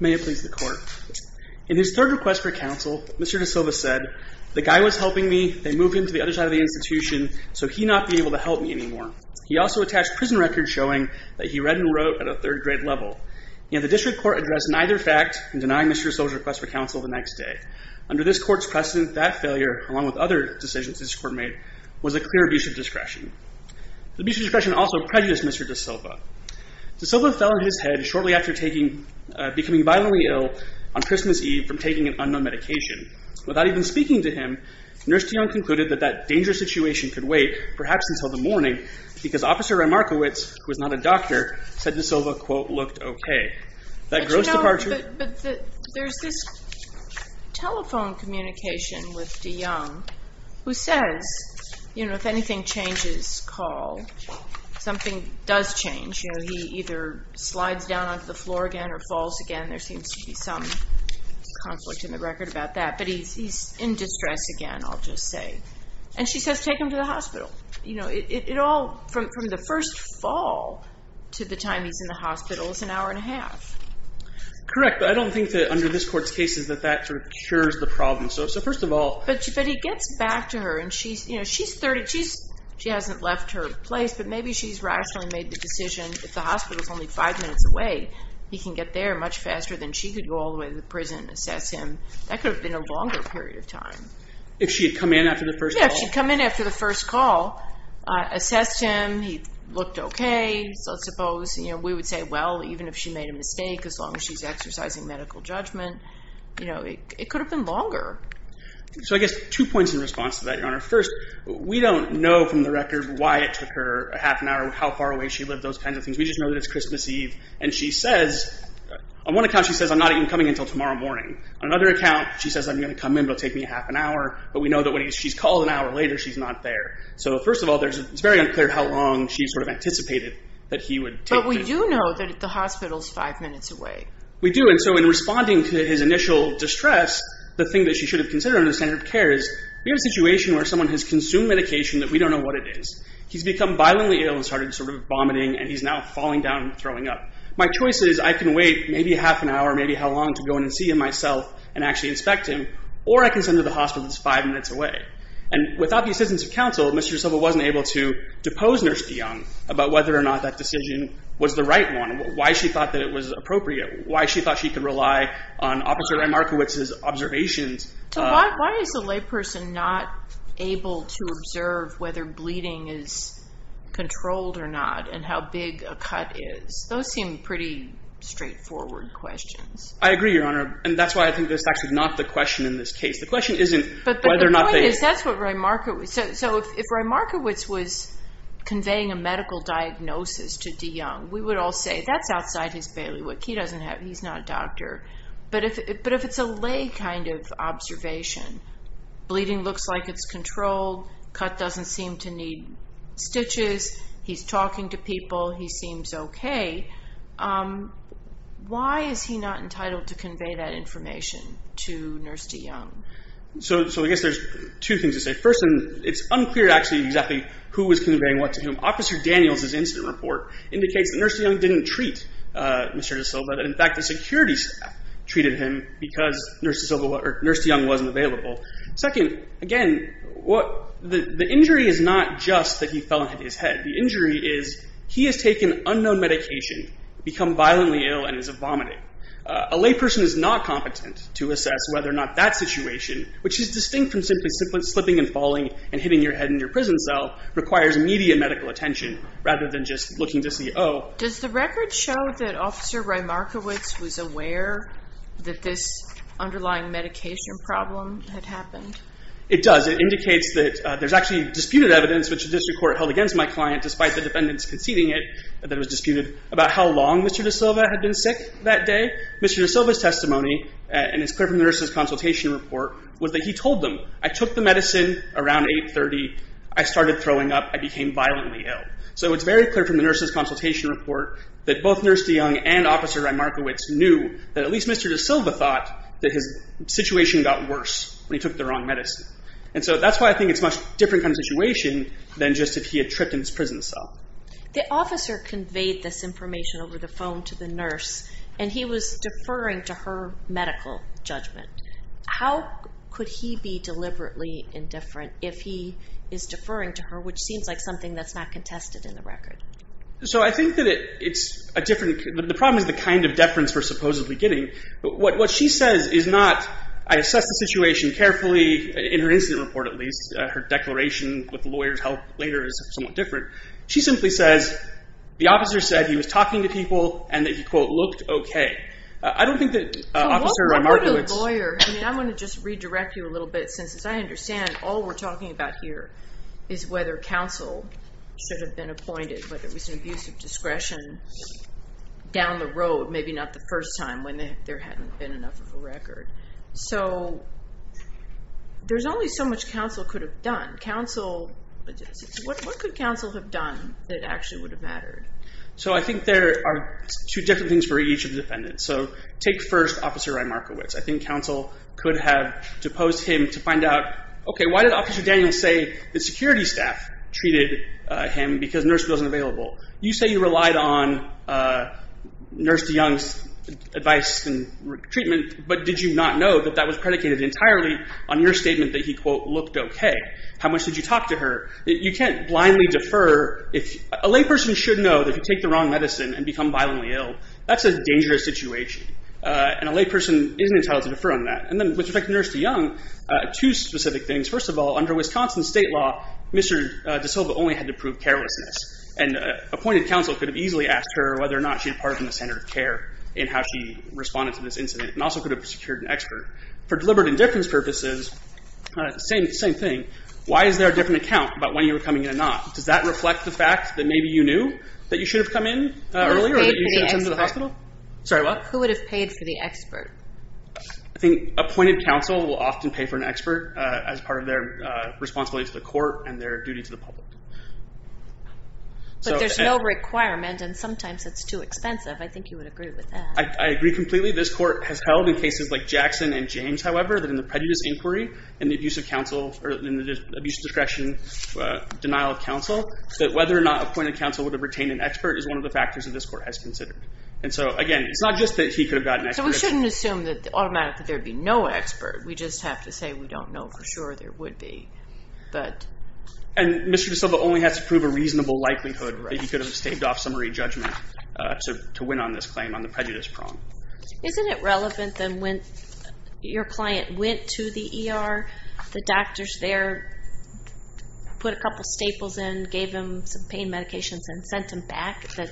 May it please the court, in his third request for counsel, Mr. DaSilva said, the guy was helping me, they moved him to the other side of the institution so he not be able to help me anymore. He also attached prison records showing that he read and wrote at a third grade level. The district court addressed neither fact and denied Mr. DaSilva's request for counsel the next day. Under this court's precedent, that failure, along with other decisions this court made, was a clear abuse of discretion. The abuse of discretion also prejudiced Mr. DaSilva. DaSilva fell on his head shortly after taking, becoming violently ill on Christmas Eve from taking an unknown medication. Without even speaking to him, Nurse DeYoung concluded that that dangerous situation could wait, perhaps until the morning, because Officer Rymarkiewicz, who is not a doctor, said DaSilva, quote, looked okay. That gross departure- But you know, there's this telephone communication with DeYoung who says, you know, if anything changes, call. Something does change. You know, he either slides down onto the floor again or falls again. There seems to be some conflict in the record about that. But he's in distress again, I'll just say. And she says, take him to the hospital. You know, it all, from the first fall to the time he's in the hospital, is an hour and a half. Correct, but I don't think that under this court's case is that that sort of cures the problem. So first of all- But he gets back to her and she's, you know, she's 30. She hasn't left her place, but maybe she's rationally made the decision, if the hospital's only five minutes away, he can get there much faster than she could go all the way to the prison and assess him. That could have been a longer period of time. If she had come in after the first- Yeah, if she'd come in after the first call, assessed him, he looked okay, so suppose, you know, we would say, well, even if she made a mistake, as long as she's exercising medical judgment, you know, it could have been longer. So I guess two points in response to that, Your Honor. First, we don't know from the record why it took her a half an hour, how far away she lived, those kinds of things, to receive. And she says, on one account, she says, I'm not even coming until tomorrow morning. On another account, she says, I'm going to come in. It'll take me a half an hour, but we know that when she's called an hour later, she's not there. So first of all, it's very unclear how long she sort of anticipated that he would take to- But we do know that the hospital's five minutes away. We do, and so in responding to his initial distress, the thing that she should have considered under the standard of care is, we have a situation where someone has consumed medication that we don't know what it is. He's become violently ill and started sort of vomiting, and he's now falling down and throwing up. My choice is, I can wait maybe a half an hour, maybe how long, to go in and see him myself and actually inspect him, or I can send her to the hospital that's five minutes away. And without the assistance of counsel, Mr. De Silva wasn't able to depose Nurse De Young about whether or not that decision was the right one, why she thought that it was appropriate, why she thought she could rely on Officer Remarkowitz's observations. So why is the layperson not able to I agree, Your Honor, and that's why I think that's actually not the question in this case. The question isn't whether or not they- But the point is, that's what Remarkowitz- So if Remarkowitz was conveying a medical diagnosis to De Young, we would all say, that's outside his bailiwick. He doesn't have- He's not a doctor. But if it's a lay kind of observation, bleeding looks like it's controlled, cut doesn't seem to need stitches, he's talking to people, he seems okay. Why is he not entitled to convey that information to Nurse De Young? So I guess there's two things to say. First, and it's unclear actually exactly who was conveying what to him. Officer Daniels' incident report indicates that Nurse De Young didn't treat Mr. De Silva. In fact, the security staff treated him because Nurse De Young wasn't available. Second, again, the injury is not just that he fell and hit his head. The injury is he has taken unknown medication, become violently ill, and is vomiting. A layperson is not competent to assess whether or not that situation, which is distinct from simply slipping and falling and hitting your head in your prison cell, requires immediate medical attention rather than just looking to see, oh- Does the record show that Officer Rymarkowitz was aware that this underlying medication problem had happened? It does. It indicates that there's actually disputed evidence, which the district court held against my client, despite the defendants conceding it, that it was disputed about how long Mr. De Silva had been sick that day. Mr. De Silva's testimony, and it's clear from the nurse's consultation report, was that he told them, I took the medicine around 8.30, I started throwing up, I became violently ill. So it's very clear from the nurse's consultation report that both Nurse De Young and Officer Rymarkowitz knew that at least Mr. De Silva thought that his situation got worse when he took the wrong medicine. And so that's why I think it's a much different kind of situation than just if he had tripped in his prison cell. The officer conveyed this information over the phone to the nurse, and he was deferring to her medical judgment. How could he be deliberately indifferent if he is deferring to her, which seems like something that's not contested in the record? So I think that it's a different, the problem is the kind of deference we're supposedly getting. What she says is not, I assess the situation carefully, in her incident report at least, her declaration with the lawyer's help later is somewhat different. She simply says, the officer said he was talking to people and that he, quote, looked okay. I don't think that Officer Rymarkowitz- So what part of lawyer, I mean I want to just redirect you a little bit since as I understand, all we're talking about here is whether counsel should have been appointed, but it was an abuse of discretion down the road, maybe not the first time when there hadn't been enough of a record. So there's only so much counsel could have done. Counsel, what could counsel have done that actually would have mattered? So I think there are two different things for each of the defendants. So take first Officer Rymarkowitz. I think counsel could have deposed him to find out, why did Officer Daniels say the security staff treated him because nurse wasn't available? You say you relied on Nurse de Young's advice and treatment, but did you not know that that was predicated entirely on your statement that he, quote, looked okay? How much did you talk to her? You can't blindly defer. A layperson should know that if you take the wrong medicine and become violently ill, that's a dangerous situation. And a layperson isn't entitled to defer on that. And then with respect to Nurse de Young, two specific things. First of all, under Wisconsin state law, Mr. De Silva only had to prove carelessness. And appointed counsel could have easily asked her whether or not she departed from the standard of care in how she responded to this incident, and also could have secured an expert. For deliberate indifference purposes, same thing. Why is there a different account about when you were coming in or not? Does that reflect the fact that maybe you knew that you should have come in earlier, that you should have come to the hospital? Who would have paid for the expert? I think appointed counsel will often pay for an expert as part of their responsibility to the court and their duty to the public. But there's no requirement, and sometimes it's too expensive. I think you would agree with that. I agree completely. This court has held in cases like Jackson and James, however, that in the prejudice inquiry and the abuse of discretion denial of counsel, that whether or not appointed counsel would have retained an expert is one of the So again, it's not just that he could have gotten an expert. So we shouldn't assume that automatically there would be no expert. We just have to say we don't know for sure there would be. And Mr. De Silva only has to prove a reasonable likelihood that he could have staved off summary judgment to win on this claim on the prejudice prong. Isn't it relevant that when your client went to the ER, the doctors there put a couple staples in, gave him some pain medications, and sent him back, that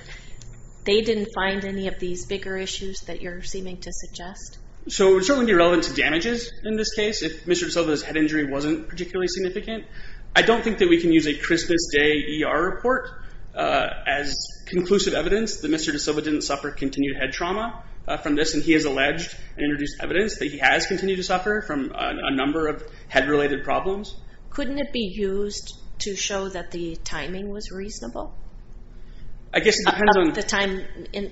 they didn't find any of these bigger issues that you're seeming to suggest? So it would certainly be relevant to damages in this case if Mr. De Silva's head injury wasn't particularly significant. I don't think that we can use a Christmas Day ER report as conclusive evidence that Mr. De Silva didn't suffer continued head trauma from this, and he has alleged and introduced evidence that he has continued to suffer from a number of head-related problems. Couldn't it be used to show that the timing was reasonable? I guess it depends on the time.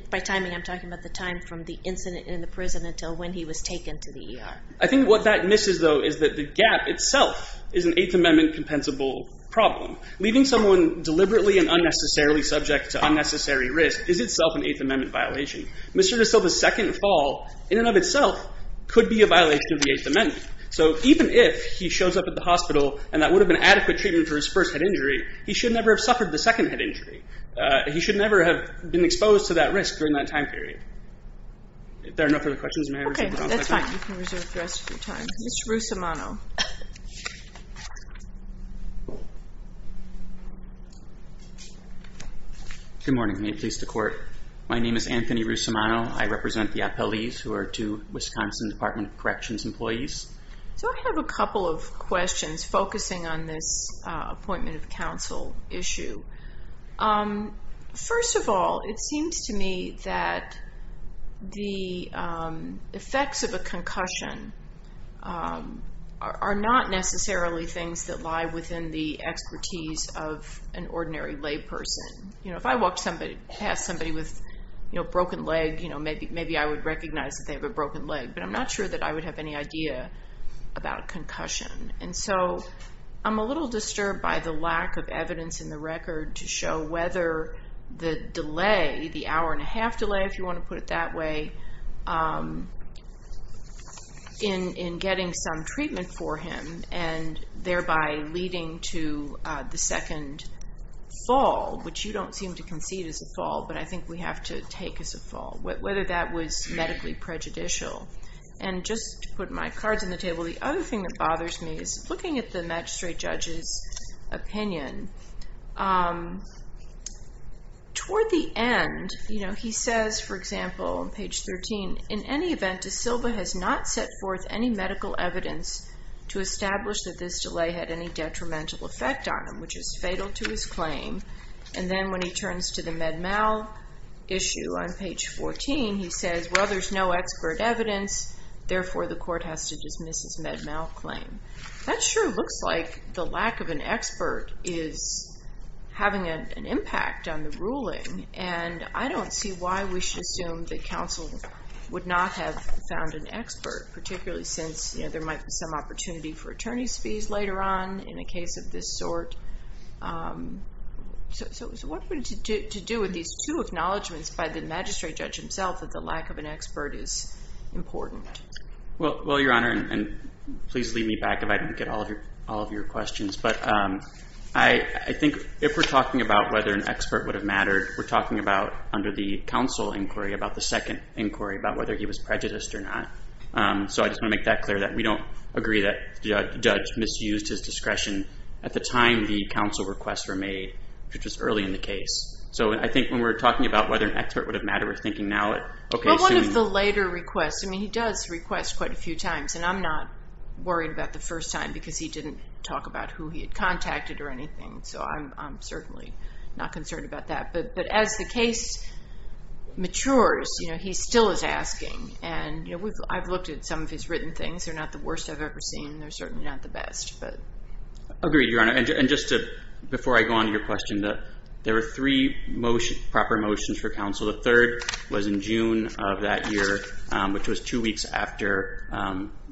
By timing, I'm talking about the time from the incident in the prison until when he was taken to the ER. I think what that misses, though, is that the gap itself is an Eighth Amendment compensable problem. Leaving someone deliberately and unnecessarily subject to unnecessary risk is itself an Eighth Amendment violation. Mr. De Silva's second fall, in and of itself, could be a violation of the hospital, and that would have been adequate treatment for his first head injury. He should never have suffered the second head injury. He should never have been exposed to that risk during that time period. If there are no further questions, may I reserve the rest of your time? Okay, that's fine. You can reserve the rest of your time. Mr. Russomano. Good morning. May it please the Court. My name is Anthony Russomano. I represent the appellees who are two Wisconsin Department of Corrections employees. So I have a couple of questions focusing on this appointment of counsel issue. First of all, it seems to me that the effects of a concussion are not necessarily things that lie within the expertise of an ordinary lay person. If I walked past somebody with a broken leg, maybe I would recognize that they have a broken leg, but I'm not sure that I would have any idea about a concussion. And so I'm a little disturbed by the lack of evidence in the record to show whether the delay, the hour and a half delay, if you want to put it that way, in getting some treatment for him, and thereby leading to the second fall, which you don't seem to concede is a fall, but I think we have to take as a fall, whether that was medically prejudicial. And just to put my cards on the table, the other thing that bothers me is looking at the magistrate judge's opinion. Toward the end, you know, he says, for example, on page 13, in any event, De Silva has not set forth any medical evidence to establish that this delay had any detrimental effect on him, which is fatal to his claim. And then when he turns to the Med-Mal issue on page 14, he says, well, there's no expert evidence, therefore, the court has to dismiss his Med-Mal claim. That sure looks like the lack of an expert is having an impact on the ruling, and I don't see why we should assume that counsel would not have found an expert, particularly since, you know, there might be some opportunity for attorney's fees later on in a case of this sort. So what are we to do with these two acknowledgments by the magistrate judge himself that the lack of an expert is important? Well, Your Honor, and please leave me back if I don't get all of your questions, but I think if we're talking about whether an expert would have mattered, we're talking about under the counsel inquiry, about the second inquiry, about whether he was prejudiced or not. So I just want to make that clear that we don't agree that the judge misused his discretion at the time the counsel requests were made, which was early in the case. So I think when we're talking about whether an expert would have mattered, we're thinking now that, okay, assuming. Well, one of the later requests, I mean, he does request quite a few times, and I'm not worried about the first time because he didn't talk about who he had contacted or anything. So I'm certainly not concerned about that. But as the case matures, you know, he still is asking, and, you know, I've looked at some of his written things. They're not the worst I've ever seen. They're certainly not the best, but. Agreed, Your Honor. And just to, before I go on to your question, there were three proper motions for counsel. The third was in June of that year, which was two weeks after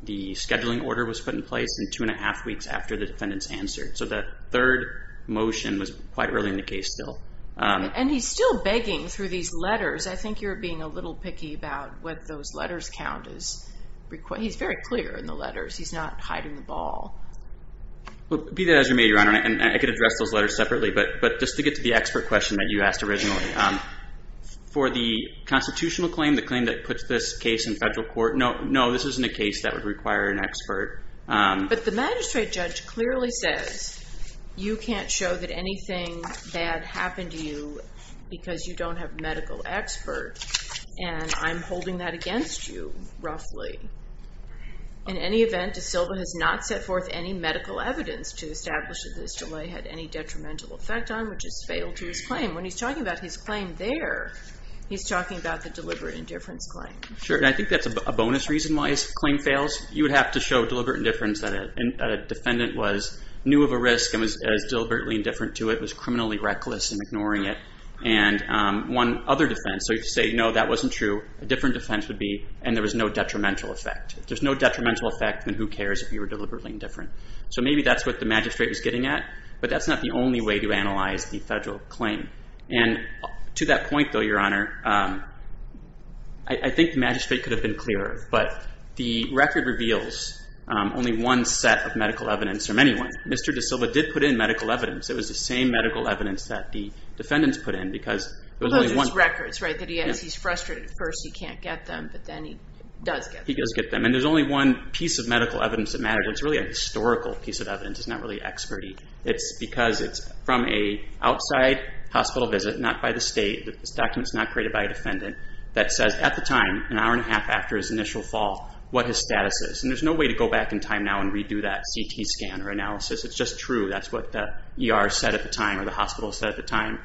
the scheduling order was put in place, and two and a half weeks after the defendant's answer. So that third motion was quite early in the case still. And he's still begging through these letters. I think you're being a little picky about what those letters count as. He's very clear in the letters. He's not hiding the ball. Be that as you may, Your Honor, and I could address those letters separately, but just to get to the expert question that you asked originally, for the constitutional claim, the claim that puts this case in federal court, no, this isn't a case that would require an expert. But the magistrate judge clearly says, you can't show that anything bad happened to you because you don't have medical experts, and I'm holding that against you, roughly. In any event, De Silva has not set forth any medical evidence to establish that this delay had any detrimental effect on, which is fatal to his claim. When he's talking about his claim there, he's talking about the deliberate indifference claim. Sure, and I think that's a bonus reason why his claim fails. You would have to show deliberate indifference that a defendant was new of a risk and was as deliberately indifferent to it, was criminally reckless in ignoring it. And one other defense, so you say, no, that wasn't true. A different defense would be, and there was no detrimental effect. If there's no detrimental effect, then who cares if you were deliberately indifferent? So maybe that's what the magistrate was getting at, but that's not the only way to analyze the federal claim. And to that point, though, Your Honor, I think the magistrate could have been clearer, but the record reveals only one set of medical evidence from anyone. Mr. De Silva did put in medical evidence. It was the same medical evidence that the defendants put in because it was only one. Well, those are his records, right, that he has. He's frustrated at first he can't get them, but then he does get them. He does get them. And there's only one piece of medical evidence that mattered. It's really a historical piece of evidence. It's not really expertise. It's because it's from a outside hospital visit, not by the state. This document's not created by a defendant that says, at the time, an hour and a half after his initial fall, what his status is. And there's no way to go back in time now and redo that CT scan or analysis. It's just true. That's what the ER said at the time, or the hospital said at the time,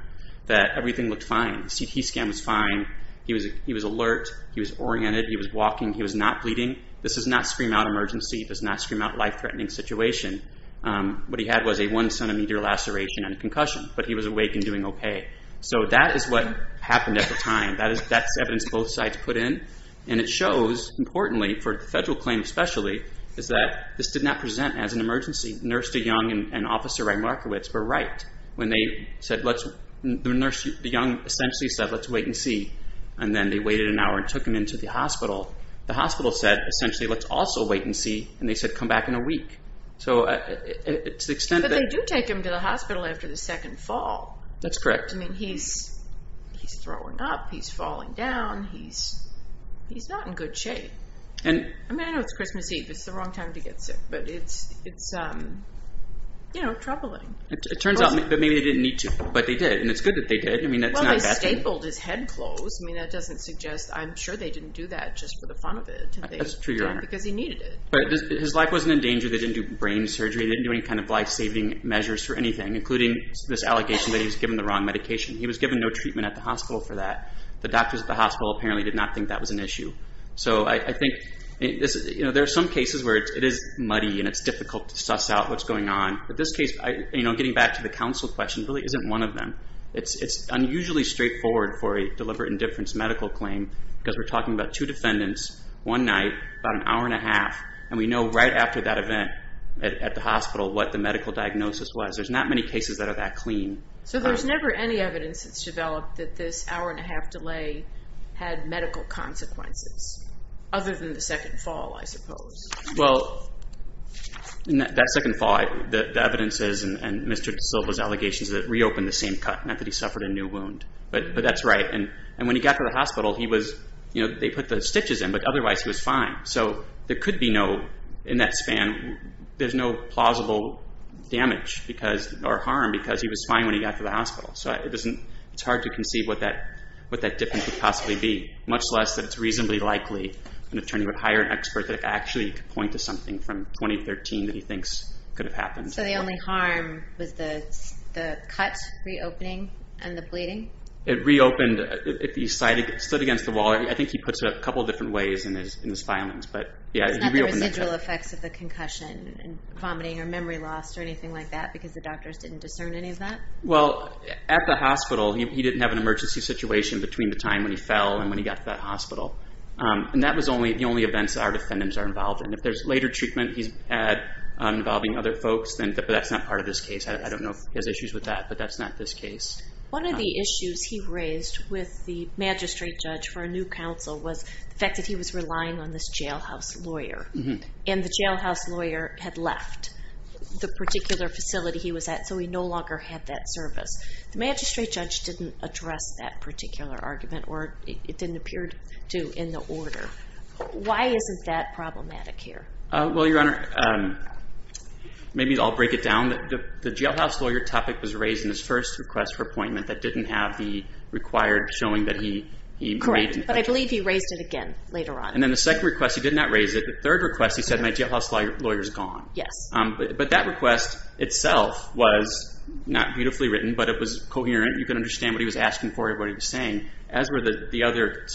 that everything looked fine. The CT scan was fine. He was alert. He was oriented. He was walking. He was not bleeding. This does not scream out emergency. It does not scream out a life-threatening situation. What he had was a one-centimeter laceration and a concussion, but he was awake and doing okay. So that is what happened at the time. That's evidence both sides put in. And it shows, importantly, for the federal claim especially, is that this did not present as an emergency. Nurse DeYoung and Officer Rymarkowitz were right. When they said, let's, the nurse, the young, essentially said, let's wait and see, and then they waited an hour and took him into the hospital. The hospital said, essentially, let's also wait and see, and they said, come back in a week. But they do take him to the hospital after the second fall. That's correct. I mean, he's throwing up. He's falling down. He's not in good shape. I mean, I know it's Christmas Eve. It's the wrong time to get sick, but it's troubling. It turns out that maybe they didn't need to, but they did, and it's good that they did. I mean, that's not a bad thing. Well, they stapled his head closed. I mean, that doesn't suggest, I'm sure they didn't do that just for the fun of it. That's true, Your Honor. Because he needed it. But his life wasn't in danger. They didn't do brain surgery. They didn't do any kind of life-saving measures for anything, including this allegation that he was given the wrong medication. He was given no treatment at the hospital for that. The doctors at the hospital apparently did not think that was an issue. So I think there are some cases where it is muddy, and it's difficult to suss out what's going on. But this case, getting back to the counsel question, really isn't one of them. It's unusually straightforward for a deliberate indifference medical claim because we're talking about two defendants, one night, about an hour and a half, and we know right after that event at the hospital what the medical diagnosis was. There's not many cases that are that clean. So there's never any evidence that's developed that this hour and a half delay had medical consequences, other than the second fall, I suppose. Well, that second fall, the evidence is, and Mr. De Silva's allegations, that it reopened the same cut, not that he suffered a new wound. But that's right. And when he got to the hospital, they put the stitches in, but otherwise he was fine. So there could be no, in that span, there's no plausible damage or harm because he was fine when he got to the hospital. So it's hard to conceive what that difference would possibly be, much less that it's reasonably likely an attorney would hire an expert that actually could point to something from 2013 that he thinks could have happened. So the only harm was the cut reopening and the bleeding? It reopened, it slid against the wall. I think he puts it a couple of different ways in his filings. But yeah, he reopened the cut. It's not the residual effects of the concussion and vomiting or memory loss or anything like that because the doctors didn't discern any of that? Well, at the hospital, he didn't have an emergency situation between the time when he fell and when he got to that hospital. And that was the only events that our defendants are involved in. If there's later treatment he's had involving other folks, then that's not part of this case. I don't know if he has issues with that, but that's not this case. One of the issues he raised with the magistrate judge for a new counsel was the fact that he was relying on this jailhouse lawyer. And the jailhouse lawyer had left the particular facility he was at, so he no longer had that service. The magistrate judge didn't address that particular argument, or it didn't appear to in the order. Why isn't that problematic here? Well, Your Honor, maybe I'll break it down. The jailhouse lawyer topic was raised in his first request for appointment that didn't have the required showing that he made it. Correct, but I believe he raised it again later on. And then the second request, he did not raise it. The third request, he said, my jailhouse lawyer is gone. Yes. But that request itself was not beautifully written, but it was coherent. You can understand what he was asking for and what he was saying, as were the other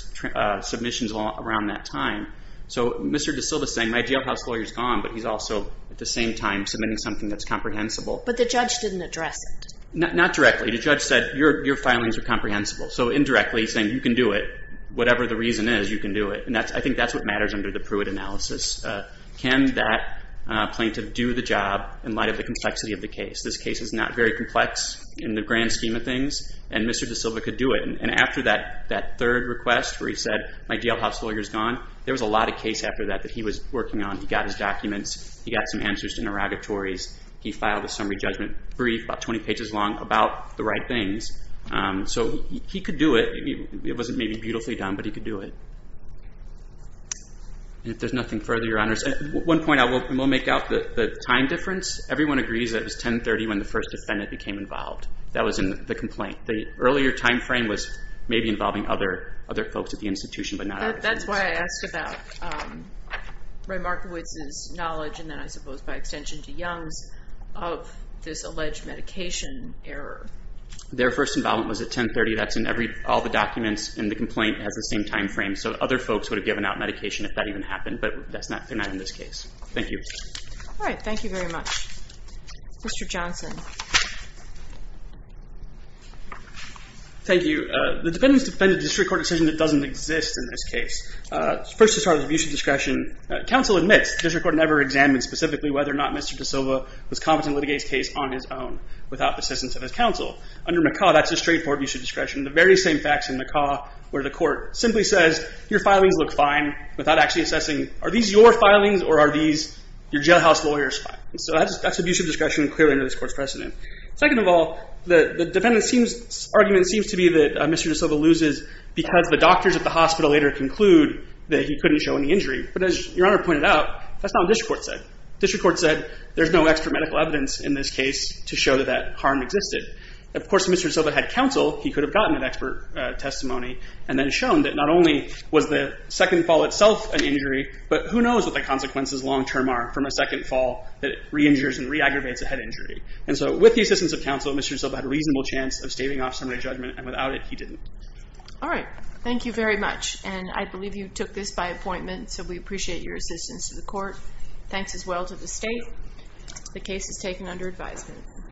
submissions around that time. So Mr. De Silva is saying, my jailhouse lawyer is gone, but he's also, at the same time, submitting something that's comprehensible. But the judge didn't address it. Not directly. The judge said, your filings are comprehensible. So indirectly, he's saying, you can do it. Whatever the reason is, you can do it. And I think that's what matters under the Pruitt analysis. Can that plaintiff do the job in light of the complexity of the case? This case is not very complex in the grand scheme of things, and Mr. De Silva could do it. And after that third request, where he said, my jailhouse lawyer is gone, there was a lot of case after that that he was working on. He got his documents. He got some answers to interrogatories. He filed a summary judgment brief, about 20 pages long, about the right things. So he could do it. It wasn't maybe beautifully done, but he could do it. And if there's nothing further, your honors. One point, I will make out the time difference. Everyone agrees that it was 1030 when the first defendant became involved. That was in the complaint. The earlier time frame was maybe involving other folks at the institution, but not at the institution. That's why I asked about Ray Markowitz's knowledge, and then I suppose by extension to Young's, of this alleged medication error. Their first involvement was at 1030. That's in all the documents in the complaint. It has the same time frame. So other folks would have given out medication if that even happened, but they're not in this case. Thank you. All right. Thank you very much. Mr. Johnson. Thank you. The defendants defended a district court decision that doesn't exist in this case. First, to start with, abuse of discretion. Counsel admits the district court never examined specifically whether or not Mr. DeSilva was competent to litigate his case on his own without the assistance of his counsel. Under McCaw, that's a straightforward abuse of discretion. The very same facts in McCaw where the court simply says, your filings look fine without actually assessing, are these your filings or are these your jailhouse lawyer's filings? So that's abuse of discretion clearly under this court's precedent. Second of all, the defendant's argument seems to be that Mr. DeSilva loses because the doctors at the hospital later conclude that he couldn't show any injury. But as your honor pointed out, that's not what district court said. District court said, there's no extra medical evidence in this case to show that that harm existed. Of course, if Mr. DeSilva had counsel, he could have gotten an expert testimony and then shown that not only was the second fall itself an injury, but who knows what the consequences long term are from a second fall that re-injures and re-aggravates a head injury. And so with the assistance of counsel, Mr. DeSilva had a reasonable chance of staving off summary judgment, and without it, he didn't. All right. Thank you very much. And I believe you took this by appointment, so we appreciate your assistance to the court. Thanks as well to the state. The case is taken under advisement.